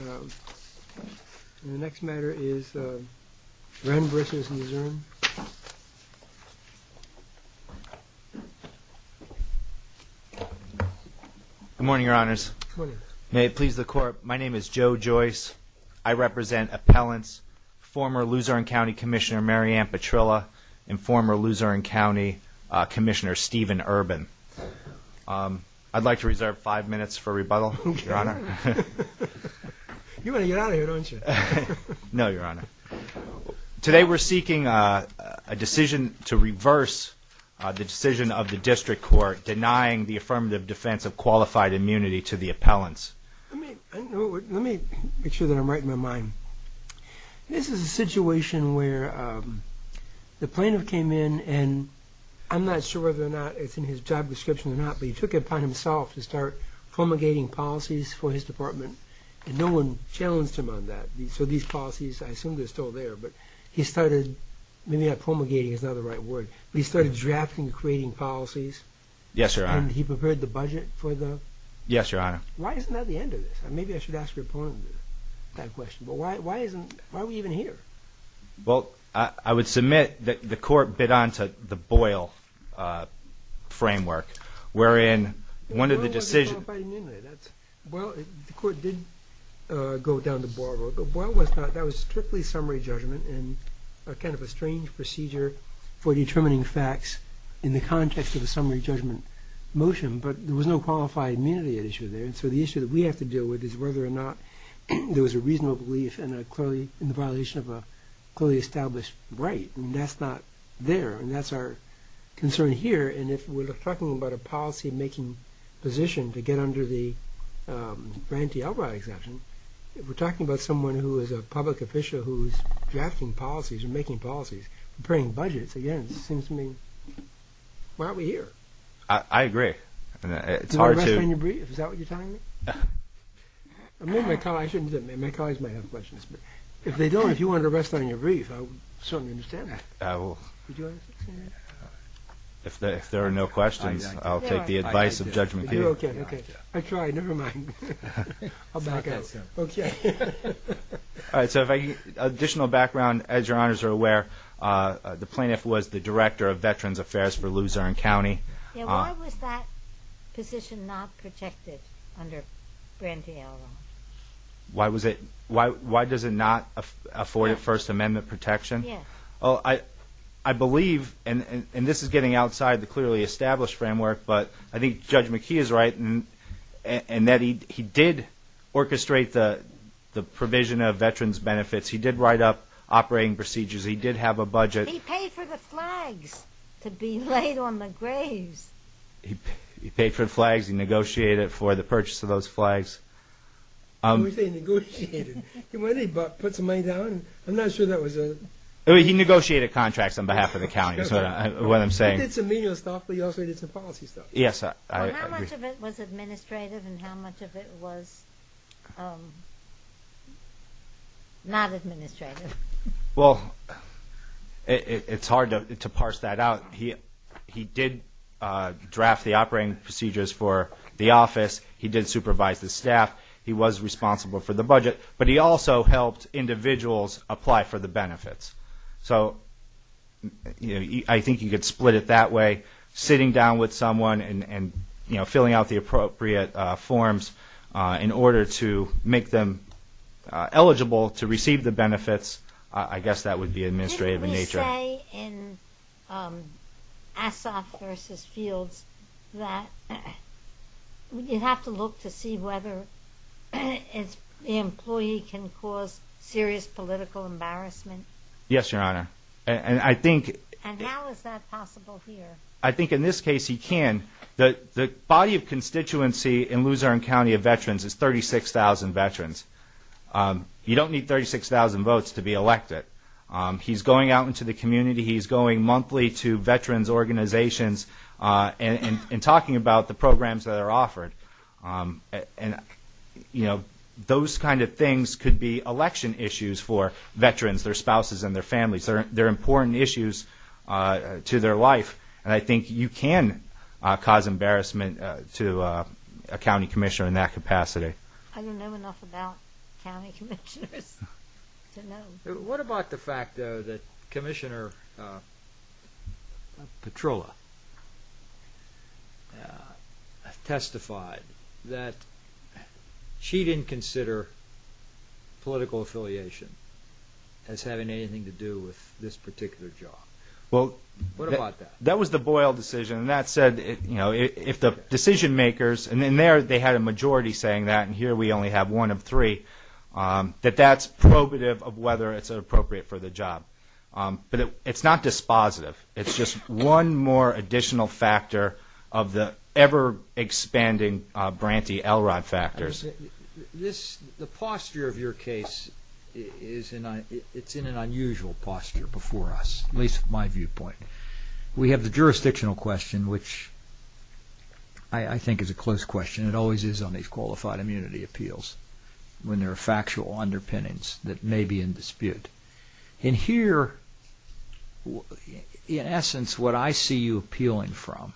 The next matter is Wren vs. Luzerne. Good morning, your honors. May it please the court, my name is Joe Joyce. I represent appellants, former Luzerne County Commissioner Mary Ann Petrilla and former Luzerne County Commissioner Steven Urban. I'd like to reserve five minutes for rebuttal, your honor. You want to get out of here, don't you? No, your honor. Today we're seeking a decision to reverse the decision of the district court denying the affirmative defense of qualified immunity to the appellants. Let me make sure that I'm right in my mind. This is a situation where the plaintiff came in and I'm not sure whether or not it's in his job promulgating policies for his department and no one challenged him on that. So these policies, I assume they're still there, but he started, maybe promulgating is not the right word, but he started drafting and creating policies. Yes, your honor. And he prepared the budget for them? Yes, your honor. Why isn't that the end of this? Maybe I should ask your opponent that question, but why isn't, why are we even here? Well, I would submit that the court bid on to the Boyle framework, wherein one of the decisions... Well, the court did go down to Boyle, but Boyle was not, that was strictly summary judgment and a kind of a strange procedure for determining facts in the context of a summary judgment motion, but there was no qualified immunity at issue there, and so the issue that we have to deal with is whether or not there was a reasonable belief in a clearly, in the violation of a clearly established right, and that's not there, and that's our concern here, and if we're talking about a policy-making position to get under the Branty Elrod exemption, if we're talking about someone who is a public official who's drafting policies or making policies, preparing budgets, again, it seems to me, why aren't we here? I agree. It's hard to... Do you want to rest on your brief? Is that what you're telling me? I mean, my colleagues might have questions, but if they don't, if you want to rest on your brief, I will... If there are no questions, I'll take the advice of Judge McHugh. Additional background, as your honors are aware, the plaintiff was the director of Veterans Affairs for Luzerne County. Why was that position not protected under Branty Elrod? Why was it... Why does it not afford First Amendment protection? I believe, and this is getting outside the clearly established framework, but I think Judge McHugh is right in that he did orchestrate the provision of veterans benefits. He did write up operating procedures. He did have a budget. He paid for the flags to be laid on the graves. He paid for the flags. He negotiated for the purchase of those flags. What do you mean he negotiated? Didn't he put some money down? I'm not sure that was a... He negotiated contracts on behalf of the county, is what I'm saying. He did some legal stuff, but he also did some policy stuff. Yes, I agree. Well, how much of it was administrative and how much of it was not administrative? Well, it's hard to parse that out. He did draft the operating procedures for the office. He did supervise the staff. He was responsible for the budget, but he also helped individuals apply for the benefits. So, I think you could split it that way. Sitting down with someone and, you know, filling out the appropriate forms in order to make them eligible to receive the benefits, I guess that would be administrative in nature. Didn't he say in Assaf v. Fields that you have to look to see whether the employee can cause serious political embarrassment? Yes, Your Honor. And how is that possible here? I think in this case he can. The body of constituency in Luzerne County of veterans is 36,000 veterans. You don't need 36,000 votes to be elected. He's going out into the community. He's going monthly to veterans organizations and talking about the programs that are offered. And, you know, those kind of things could be election issues for veterans, their spouses and their wife. And I think you can cause embarrassment to a county commissioner in that capacity. I don't know enough about county commissioners to know. What about the fact, though, that Commissioner Petrola testified that she didn't consider political affiliation as having anything to do with this particular job? Well, that was the Boyle decision. And that said, you know, if the decision-makers, and in there they had a majority saying that, and here we only have one of three, that that's probative of whether it's appropriate for the job. But it's not dispositive. It's just one more additional factor of the ever-expanding Branty Elrod factors. The posture of your case is in an unusual posture before us, at least my viewpoint. We have the jurisdictional question, which I think is a close question. It always is on these qualified immunity appeals, when there are factual underpinnings that may be in dispute. And here, in essence, what I see you appealing from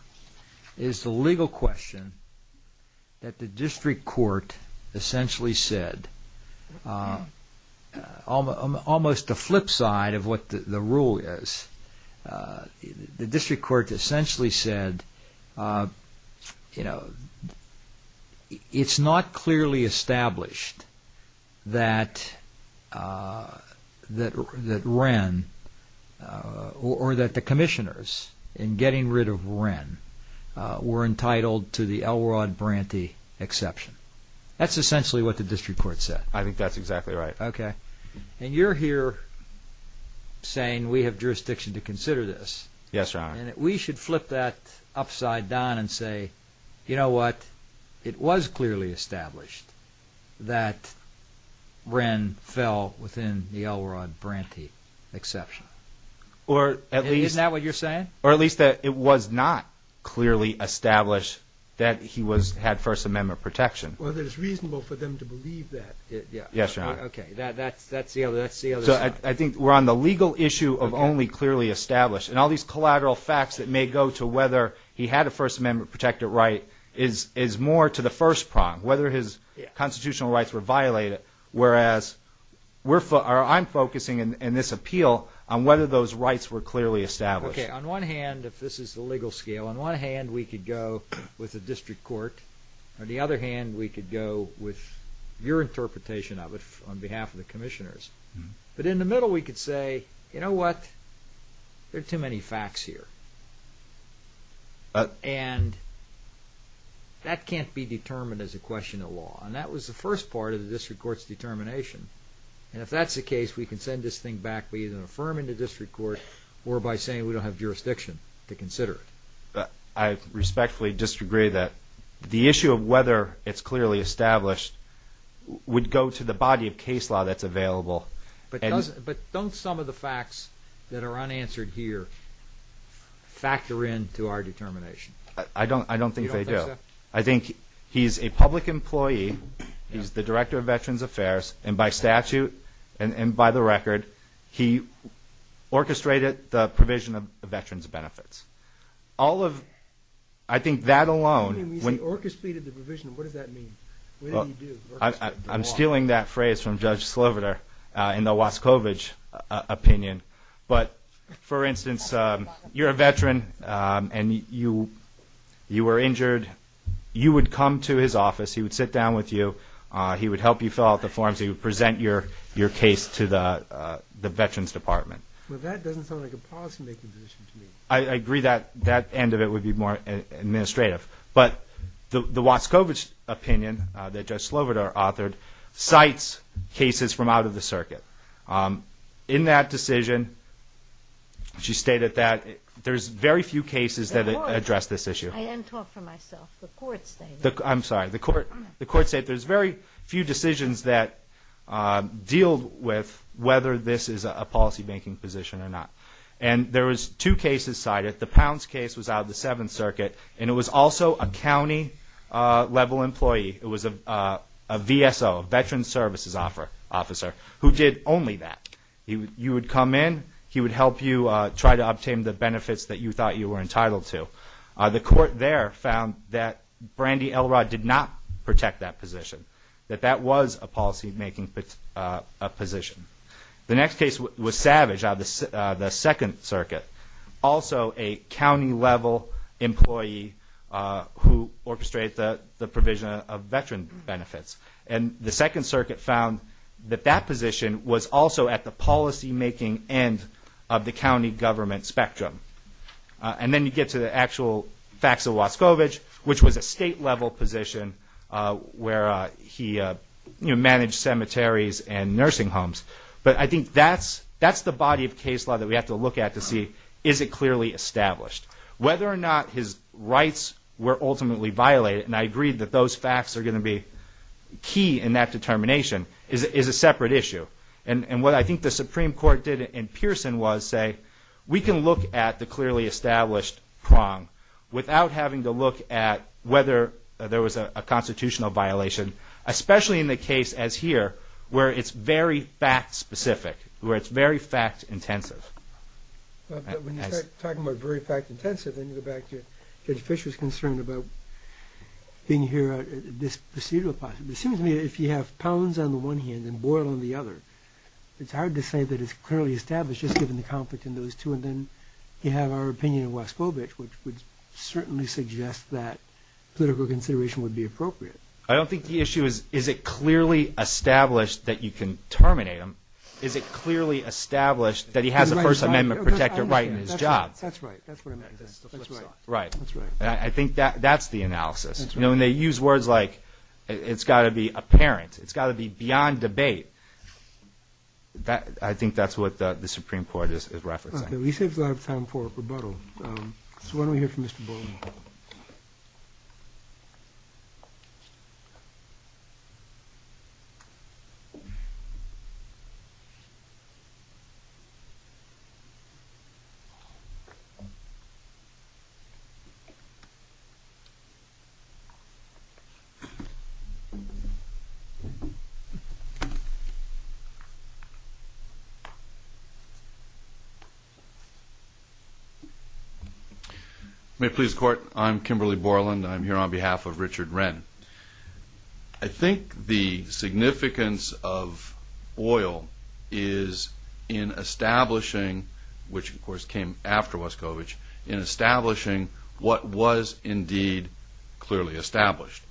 is the legal question that the district court essentially said, almost the flip side of what the rule is. The district court essentially said, you know, it's not clearly established that Wren, or that the commissioners, in getting rid of Wren, were entitled to the Elrod Branty exception. That's essentially what the district court said. I think that's exactly right. And you're here saying we have jurisdiction to consider this. Yes, Your Honor. And we should flip that upside down and say, you know what, it was clearly established that Wren fell within the Elrod Branty exception. Isn't that what you're saying? Or at least that it was not clearly established that he had First Amendment protection. Whether it's reasonable for them to believe that. Yes, Your Honor. Okay, that's the other side. I think we're on the legal issue of only clearly established. And all these collateral facts that may go to whether he had a First Amendment protected right is more to the first prong, whether his constitutional rights were violated. Whereas, I'm focusing in this appeal on whether those rights were clearly established. Okay, on one hand, if this is the legal scale, on one hand we could go with the district court. On the other hand, we could go with your interpretation of it on behalf of the commissioners. But in the middle we could say, you know what, there are too many facts here. And that can't be determined as a question of law. And that was the first part of the district court's determination. And if that's the case, we can send this thing back. We either affirm in the district court or by saying we don't have jurisdiction to consider it. I respectfully disagree that the issue of whether it's clearly established would go to the body of case law that's available. But don't some of the facts that are unanswered here factor in to our determination? You don't think so? I think he's a public employee. He's the Director of Veterans Affairs. And by statute and by the record, he orchestrated the provision of veterans' benefits. All of, I think that alone. When you say orchestrated the provision, what does that mean? What did he do? I'm stealing that phrase from Judge Sloviter in the Wascovich opinion. But, for instance, you're a veteran and you were injured. You would come to his office. He would sit down with you. He would help you fill out the forms. He would present your case to the Veterans Department. Well, that doesn't sound like a policymaking position to me. I agree that that end of it would be more administrative. But the Wascovich opinion that Judge Sloviter authored cites cases from out of the circuit. In that decision, she stated that there's very few cases that address this issue. I didn't talk for myself. The court stated. I'm sorry. The court stated there's very few decisions that deal with whether this is a policymaking position or not. And there was two cases cited. The Pounds case was out of the Seventh Circuit. And it was also a county-level employee. It was a VSO, a veteran services officer, who did only that. You would come in. He would help you try to obtain the benefits that you thought you were entitled to. The court there found that Brandy Elrod did not protect that position, that that was a policymaking position. The next case was Savage out of the Second Circuit, also a county-level employee who orchestrated the provision of veteran benefits. And the Second Circuit found that that position was also at the policymaking end of the county government spectrum. And then you get to the actual facts of Wascovich, which was a state-level position where he managed cemeteries and nursing homes. But I think that's the body of case law that we have to look at to see is it clearly established. Whether or not his rights were ultimately violated, and I agree that those facts are going to be key in that determination, is a separate issue. And what I think the Supreme Court did in Pearson was say, we can look at the clearly established prong without having to look at whether there was a constitutional violation, especially in the case as here where it's very fact-specific, where it's very fact-intensive. But when you start talking about very fact-intensive, then you go back to Judge Fischer's concern about being here at this procedural position. It seems to me that if you have pounds on the one hand and boil on the other, it's hard to say that it's clearly established just given the conflict in those two. And then you have our opinion of Wascovich, which would certainly suggest that political consideration would be appropriate. I don't think the issue is, is it clearly established that you can terminate him? Is it clearly established that he has a First Amendment protector right in his job? That's right. That's what I meant. Right. That's right. I think that's the analysis. You know, and they use words like, it's got to be apparent. It's got to be beyond debate. I think that's what the Supreme Court is referencing. Okay. We saved a lot of time for rebuttal. So why don't we hear from Mr. Boling? May it please the Court. I'm Kimberly Boling. I'm here on behalf of Richard Wren. I think the significance of Boyle is in establishing, which of course came after Wascovich, in establishing what was indeed clearly established.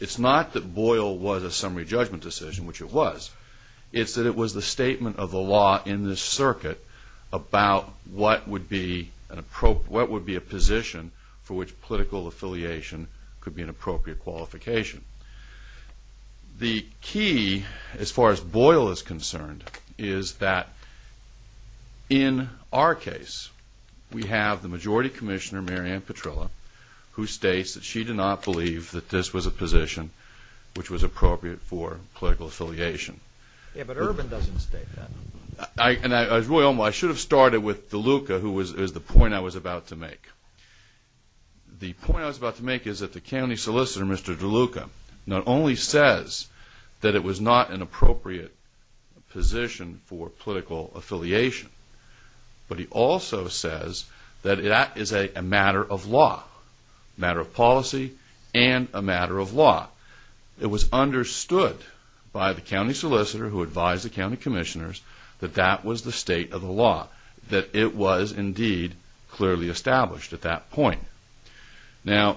It's not that Boyle was a summary judgment decision, which it was. It's that it was the statement of the law in this circuit about what would be a position for which political affiliation could be an appropriate qualification. The key, as far as Boyle is concerned, is that in our case, we have the Majority Commissioner, Mary Ann Petrilla, who states that she did not believe that this was a position which was appropriate for political affiliation. Yeah, but Urban doesn't state that. I should have started with DeLuca, who is the point I was about to make. The point I was about to make is that the county solicitor, Mr. DeLuca, not only says that it was not an appropriate position for political affiliation, but he also says that it is a matter of law, a matter of policy, and a matter of law. It was understood by the county solicitor who advised the county commissioners that that was the state of the law, that it was indeed clearly established at that point. Now,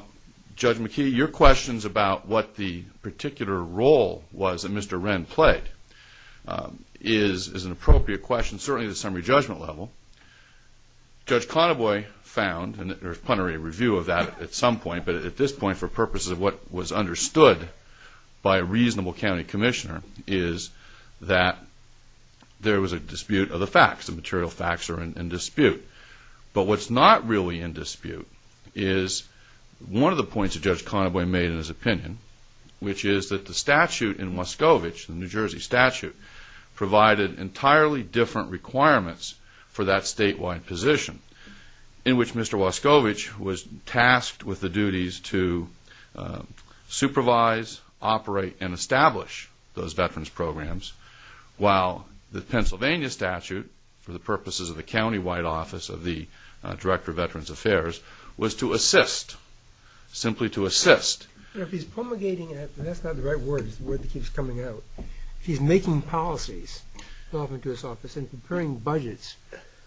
Judge McKee, your questions about what the particular role was that Mr. Wren played is an appropriate question, certainly at the summary judgment level. Judge Conaboy found, and there's plenary review of that at some point, but at this point, for purposes of what was understood by a reasonable county commissioner, is that there was a dispute of the facts. The material facts are in dispute. But what's not really in dispute is one of the points that Judge Conaboy made in his opinion, which is that the statute in Wascovich, the New Jersey statute, provided entirely different requirements for that statewide position, in which Mr. Wascovich was tasked with the duties to supervise, operate, and establish those veterans programs, while the Pennsylvania statute, for the purposes of the county White Office of the Director of Veterans Affairs, was to assist, simply to assist. Now, if he's promulgating it, and that's not the right word. It's the word that keeps coming out. If he's making policies, often to his office, and preparing budgets,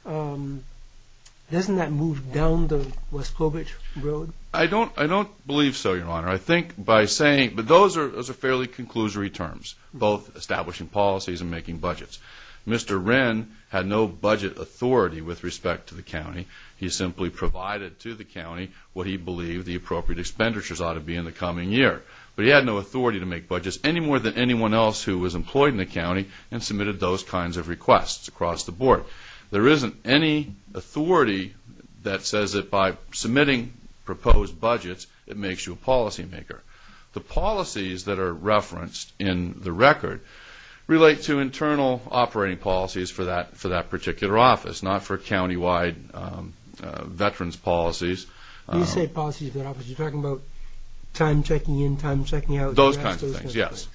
doesn't that move down the Wascovich road? I don't believe so, Your Honor. I think by saying, but those are fairly conclusory terms, both establishing policies and making budgets. He simply provided to the county what he believed the appropriate expenditures ought to be in the coming year. But he had no authority to make budgets, any more than anyone else who was employed in the county, and submitted those kinds of requests across the board. There isn't any authority that says that by submitting proposed budgets, it makes you a policymaker. The policies that are referenced in the record relate to internal operating policies for that particular office, not for countywide veterans policies. You say policies, but you're talking about time checking in, time checking out. Those kinds of things, yes.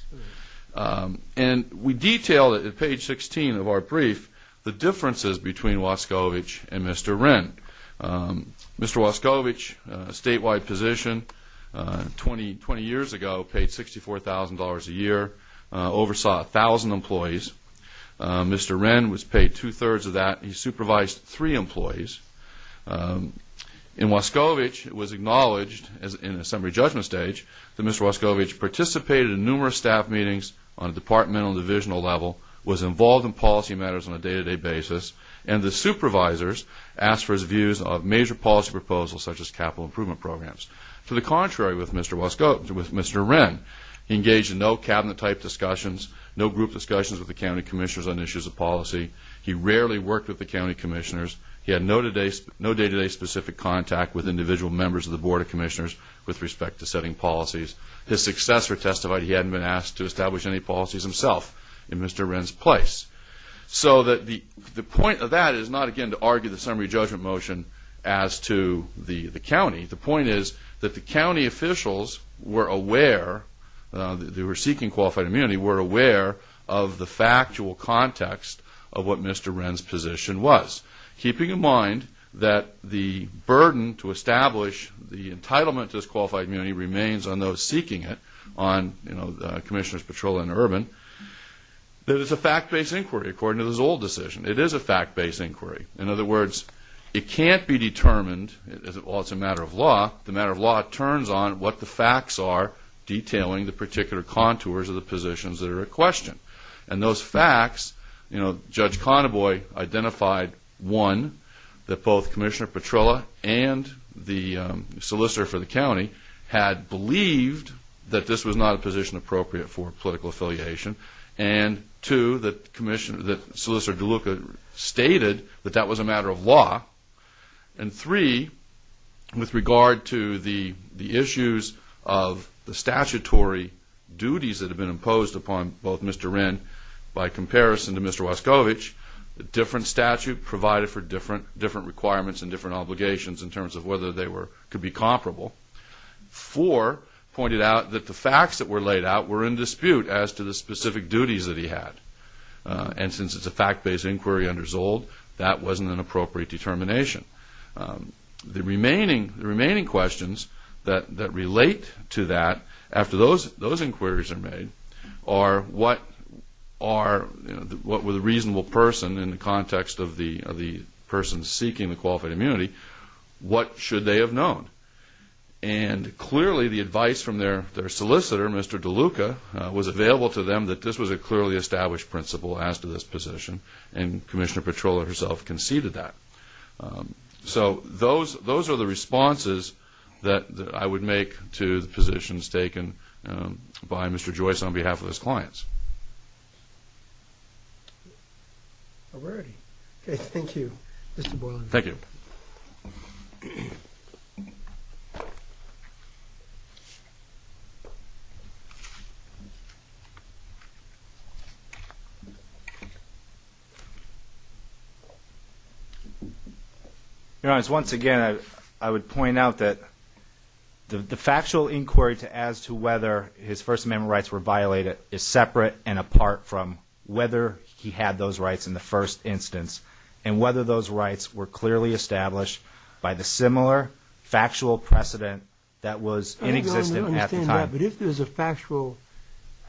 And we detail at page 16 of our brief the differences between Wascovich and Mr. Wren. Mr. Wascovich, a statewide position, 20 years ago paid $64,000 a year, oversaw 1,000 employees. Mr. Wren was paid two-thirds of that. He supervised three employees. In Wascovich, it was acknowledged in a summary judgment stage that Mr. Wascovich participated in numerous staff meetings on a departmental and divisional level, was involved in policy matters on a day-to-day basis, and the supervisors asked for his views on major policy proposals such as capital improvement programs. To the contrary with Mr. Wren, he engaged in no cabinet-type discussions, no group discussions with the county commissioners on issues of policy. He rarely worked with the county commissioners. He had no day-to-day specific contact with individual members of the board of commissioners with respect to setting policies. His successor testified he hadn't been asked to establish any policies himself in Mr. Wren's place. So the point of that is not, again, to argue the summary judgment motion as to the county. The point is that the county officials were aware, they were seeking qualified immunity, were aware of the factual context of what Mr. Wren's position was, keeping in mind that the burden to establish the entitlement to this qualified immunity remains on those seeking it, on commissioners Petrola and Urban, that it's a fact-based inquiry according to the Zoll decision. It is a fact-based inquiry. In other words, it can't be determined, well, it's a matter of law. The matter of law turns on what the facts are detailing the particular contours of the positions that are in question. And those facts, you know, Judge Conaboy identified, one, that both Commissioner Petrola and the solicitor for the county had believed that this was not a position appropriate for political affiliation, and two, that Solicitor DeLuca stated that that was a matter of law, and three, with regard to the issues of the statutory duties that have been imposed upon both Mr. Wren by comparison to Mr. Wascovich, a different statute provided for different requirements and different obligations in terms of whether they could be comparable. Four, pointed out that the facts that were laid out were in dispute as to the specific duties that he had. And since it's a fact-based inquiry under Zold, that wasn't an appropriate determination. The remaining questions that relate to that, after those inquiries are made, are what were the reasonable person in the context of the person seeking the qualified immunity, what should they have known? And clearly the advice from their solicitor, Mr. DeLuca, was available to them that this was a clearly established principle as to this position, and Commissioner Petrola herself conceded that. So those are the responses that I would make to the positions taken by Mr. Joyce on behalf of his clients. Okay, thank you, Mr. Boylan. Thank you. Your Honor, once again, I would point out that the factual inquiry as to whether his First Amendment rights were violated is separate and apart from whether he had those rights in the first instance, and whether those rights were clearly established by the similar factual precedent that was inexistent at the time. I don't understand that, but if there's a factual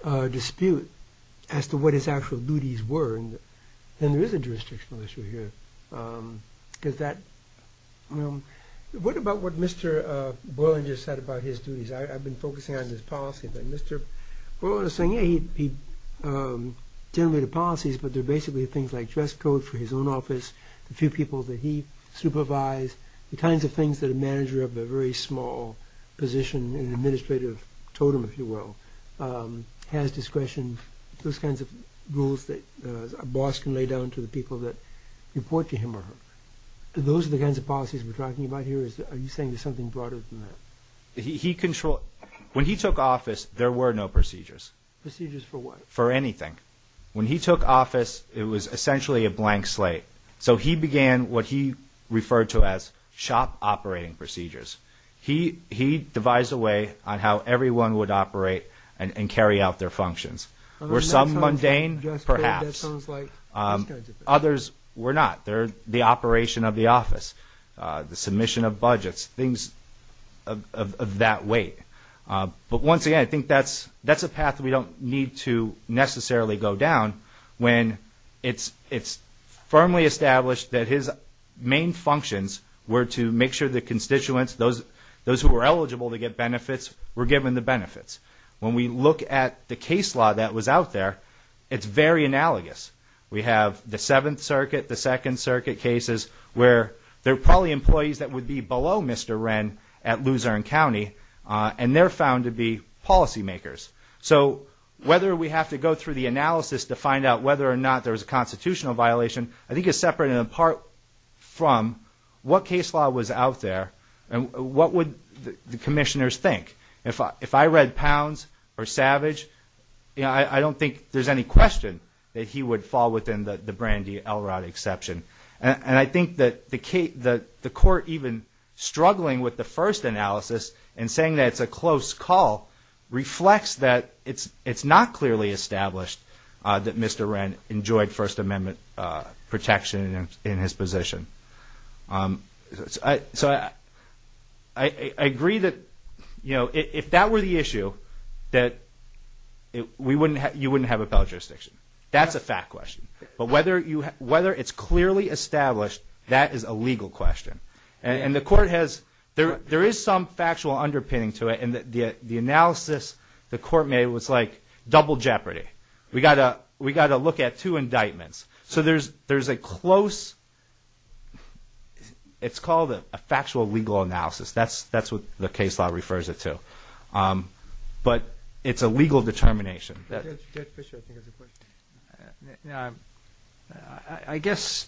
dispute as to what his actual duties were, then there is a jurisdictional issue here. What about what Mr. Boylan just said about his duties? I've been focusing on his policy, but Mr. Boylan was saying, yeah, he generated policies, but they're basically things like dress code for his own office, the few people that he supervised, the kinds of things that a manager of a very small position, an administrative totem, if you will, has discretion, those kinds of rules that a boss can lay down to the people that report to him or her. Those are the kinds of policies we're talking about here. Are you saying there's something broader than that? When he took office, there were no procedures. Procedures for what? For anything. When he took office, it was essentially a blank slate. So he began what he referred to as shop operating procedures. He devised a way on how everyone would operate and carry out their functions. Were some mundane? Perhaps. Others were not. They're the operation of the office, the submission of budgets, things of that weight. But once again, I think that's a path we don't need to necessarily go down when it's firmly established that his main functions were to make sure the constituents, those who were eligible to get benefits, were given the benefits. When we look at the case law that was out there, it's very analogous. We have the Seventh Circuit, the Second Circuit cases, where there are probably employees that would be below Mr. Wren at Luzerne County, and they're found to be policymakers. So whether we have to go through the analysis to find out whether or not there was a constitutional violation, I think it's separate and apart from what case law was out there and what would the commissioners think. If I read Pounds or Savage, I don't think there's any question that he would fall within the Brandi Elrod exception. And I think that the court even struggling with the first analysis and saying that it's a close call reflects that it's not clearly established that Mr. Wren enjoyed First Amendment protection in his position. So I agree that if that were the issue, that you wouldn't have appellate jurisdiction. That's a fact question. But whether it's clearly established, that is a legal question. And the court has, there is some factual underpinning to it, and the analysis the court made was like double jeopardy. We got to look at two indictments. So there's a close, it's called a factual legal analysis. That's what the case law refers it to. But it's a legal determination. Judge Fischer, I think has a question. I guess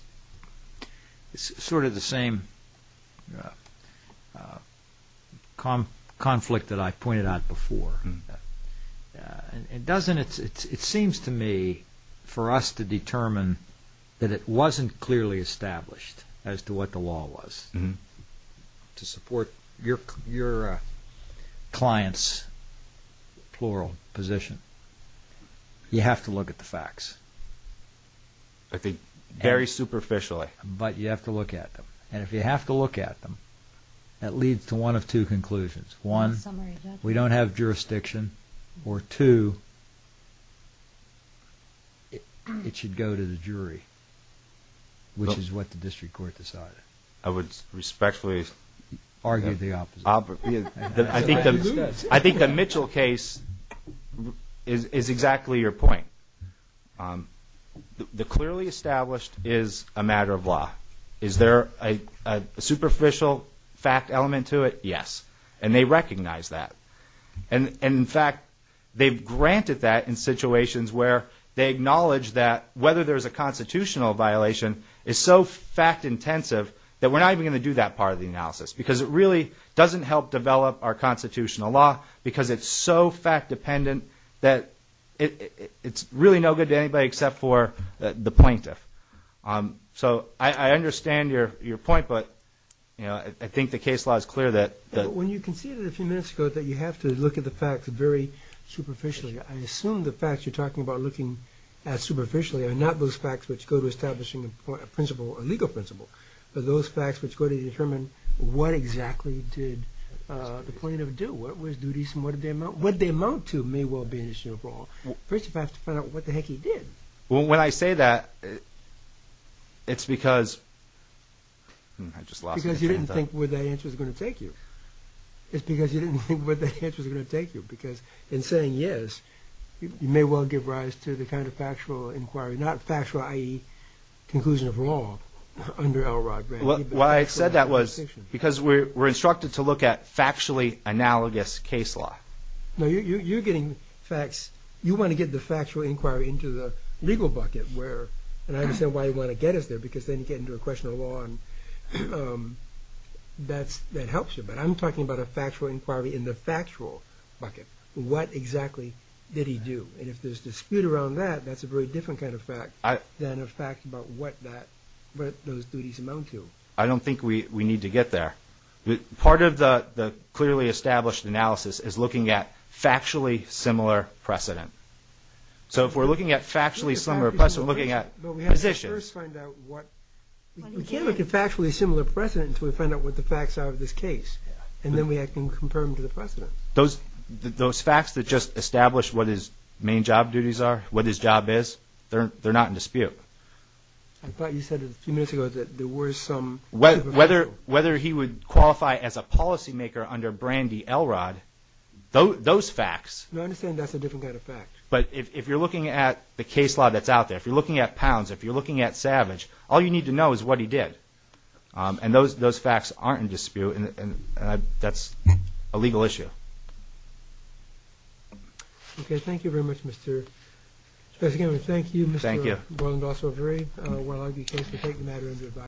it's sort of the same conflict that I pointed out before. It seems to me for us to determine that it wasn't clearly established as to what the law was to support your client's plural position, you have to look at the facts. I think very superficially. But you have to look at them. And if you have to look at them, that leads to one of two conclusions. One, we don't have jurisdiction. Or two, it should go to the jury, which is what the district court decided. I would respectfully argue the opposite. I think the Mitchell case is exactly your point. The clearly established is a matter of law. Is there a superficial fact element to it? Yes. And they recognize that. In fact, they've granted that in situations where they acknowledge that whether there's a constitutional violation is so fact intensive that we're not even going to do that part of the analysis. Because it really doesn't help develop our constitutional law because it's so fact dependent that it's really no good to anybody except for the plaintiff. So I understand your point, but I think the case law is clear. When you conceded a few minutes ago that you have to look at the facts very superficially, I assume the facts you're talking about looking at superficially are not those facts which go to establishing a principle, a legal principle, but those facts which go to determine what exactly did the plaintiff do, what were his duties and what did they amount to may well be an issue overall. First you have to find out what the heck he did. Well, when I say that, it's because I just lost my train of thought. Because you didn't think where that answer was going to take you. It's because you didn't think where that answer was going to take you. Because in saying yes, you may well give rise to the kind of factual inquiry, not factual, i.e., conclusion of wrong under Elrod. What I said that was because we're instructed to look at factually analogous case law. No, you're getting facts. You want to get the factual inquiry into the legal bucket, and I understand why you want to get us there, because then you get into a question of law and that helps you. But I'm talking about a factual inquiry in the factual bucket. What exactly did he do? And if there's dispute around that, that's a very different kind of fact than a fact about what those duties amount to. I don't think we need to get there. Part of the clearly established analysis is looking at factually similar precedent. So if we're looking at factually similar precedent, we're looking at positions. But we have to first find out what... We can't look at factually similar precedent until we find out what the facts are of this case, and then we can confirm to the precedent. Those facts that just establish what his main job duties are, what his job is, they're not in dispute. I thought you said a few minutes ago that there were some... Whether he would qualify as a policymaker under Brandy Elrod, those facts... No, I understand that's a different kind of fact. But if you're looking at the case law that's out there, if you're looking at Pounds, if you're looking at Savage, all you need to know is what he did. And those facts aren't in dispute, and that's a legal issue. Okay, thank you very much, Mr....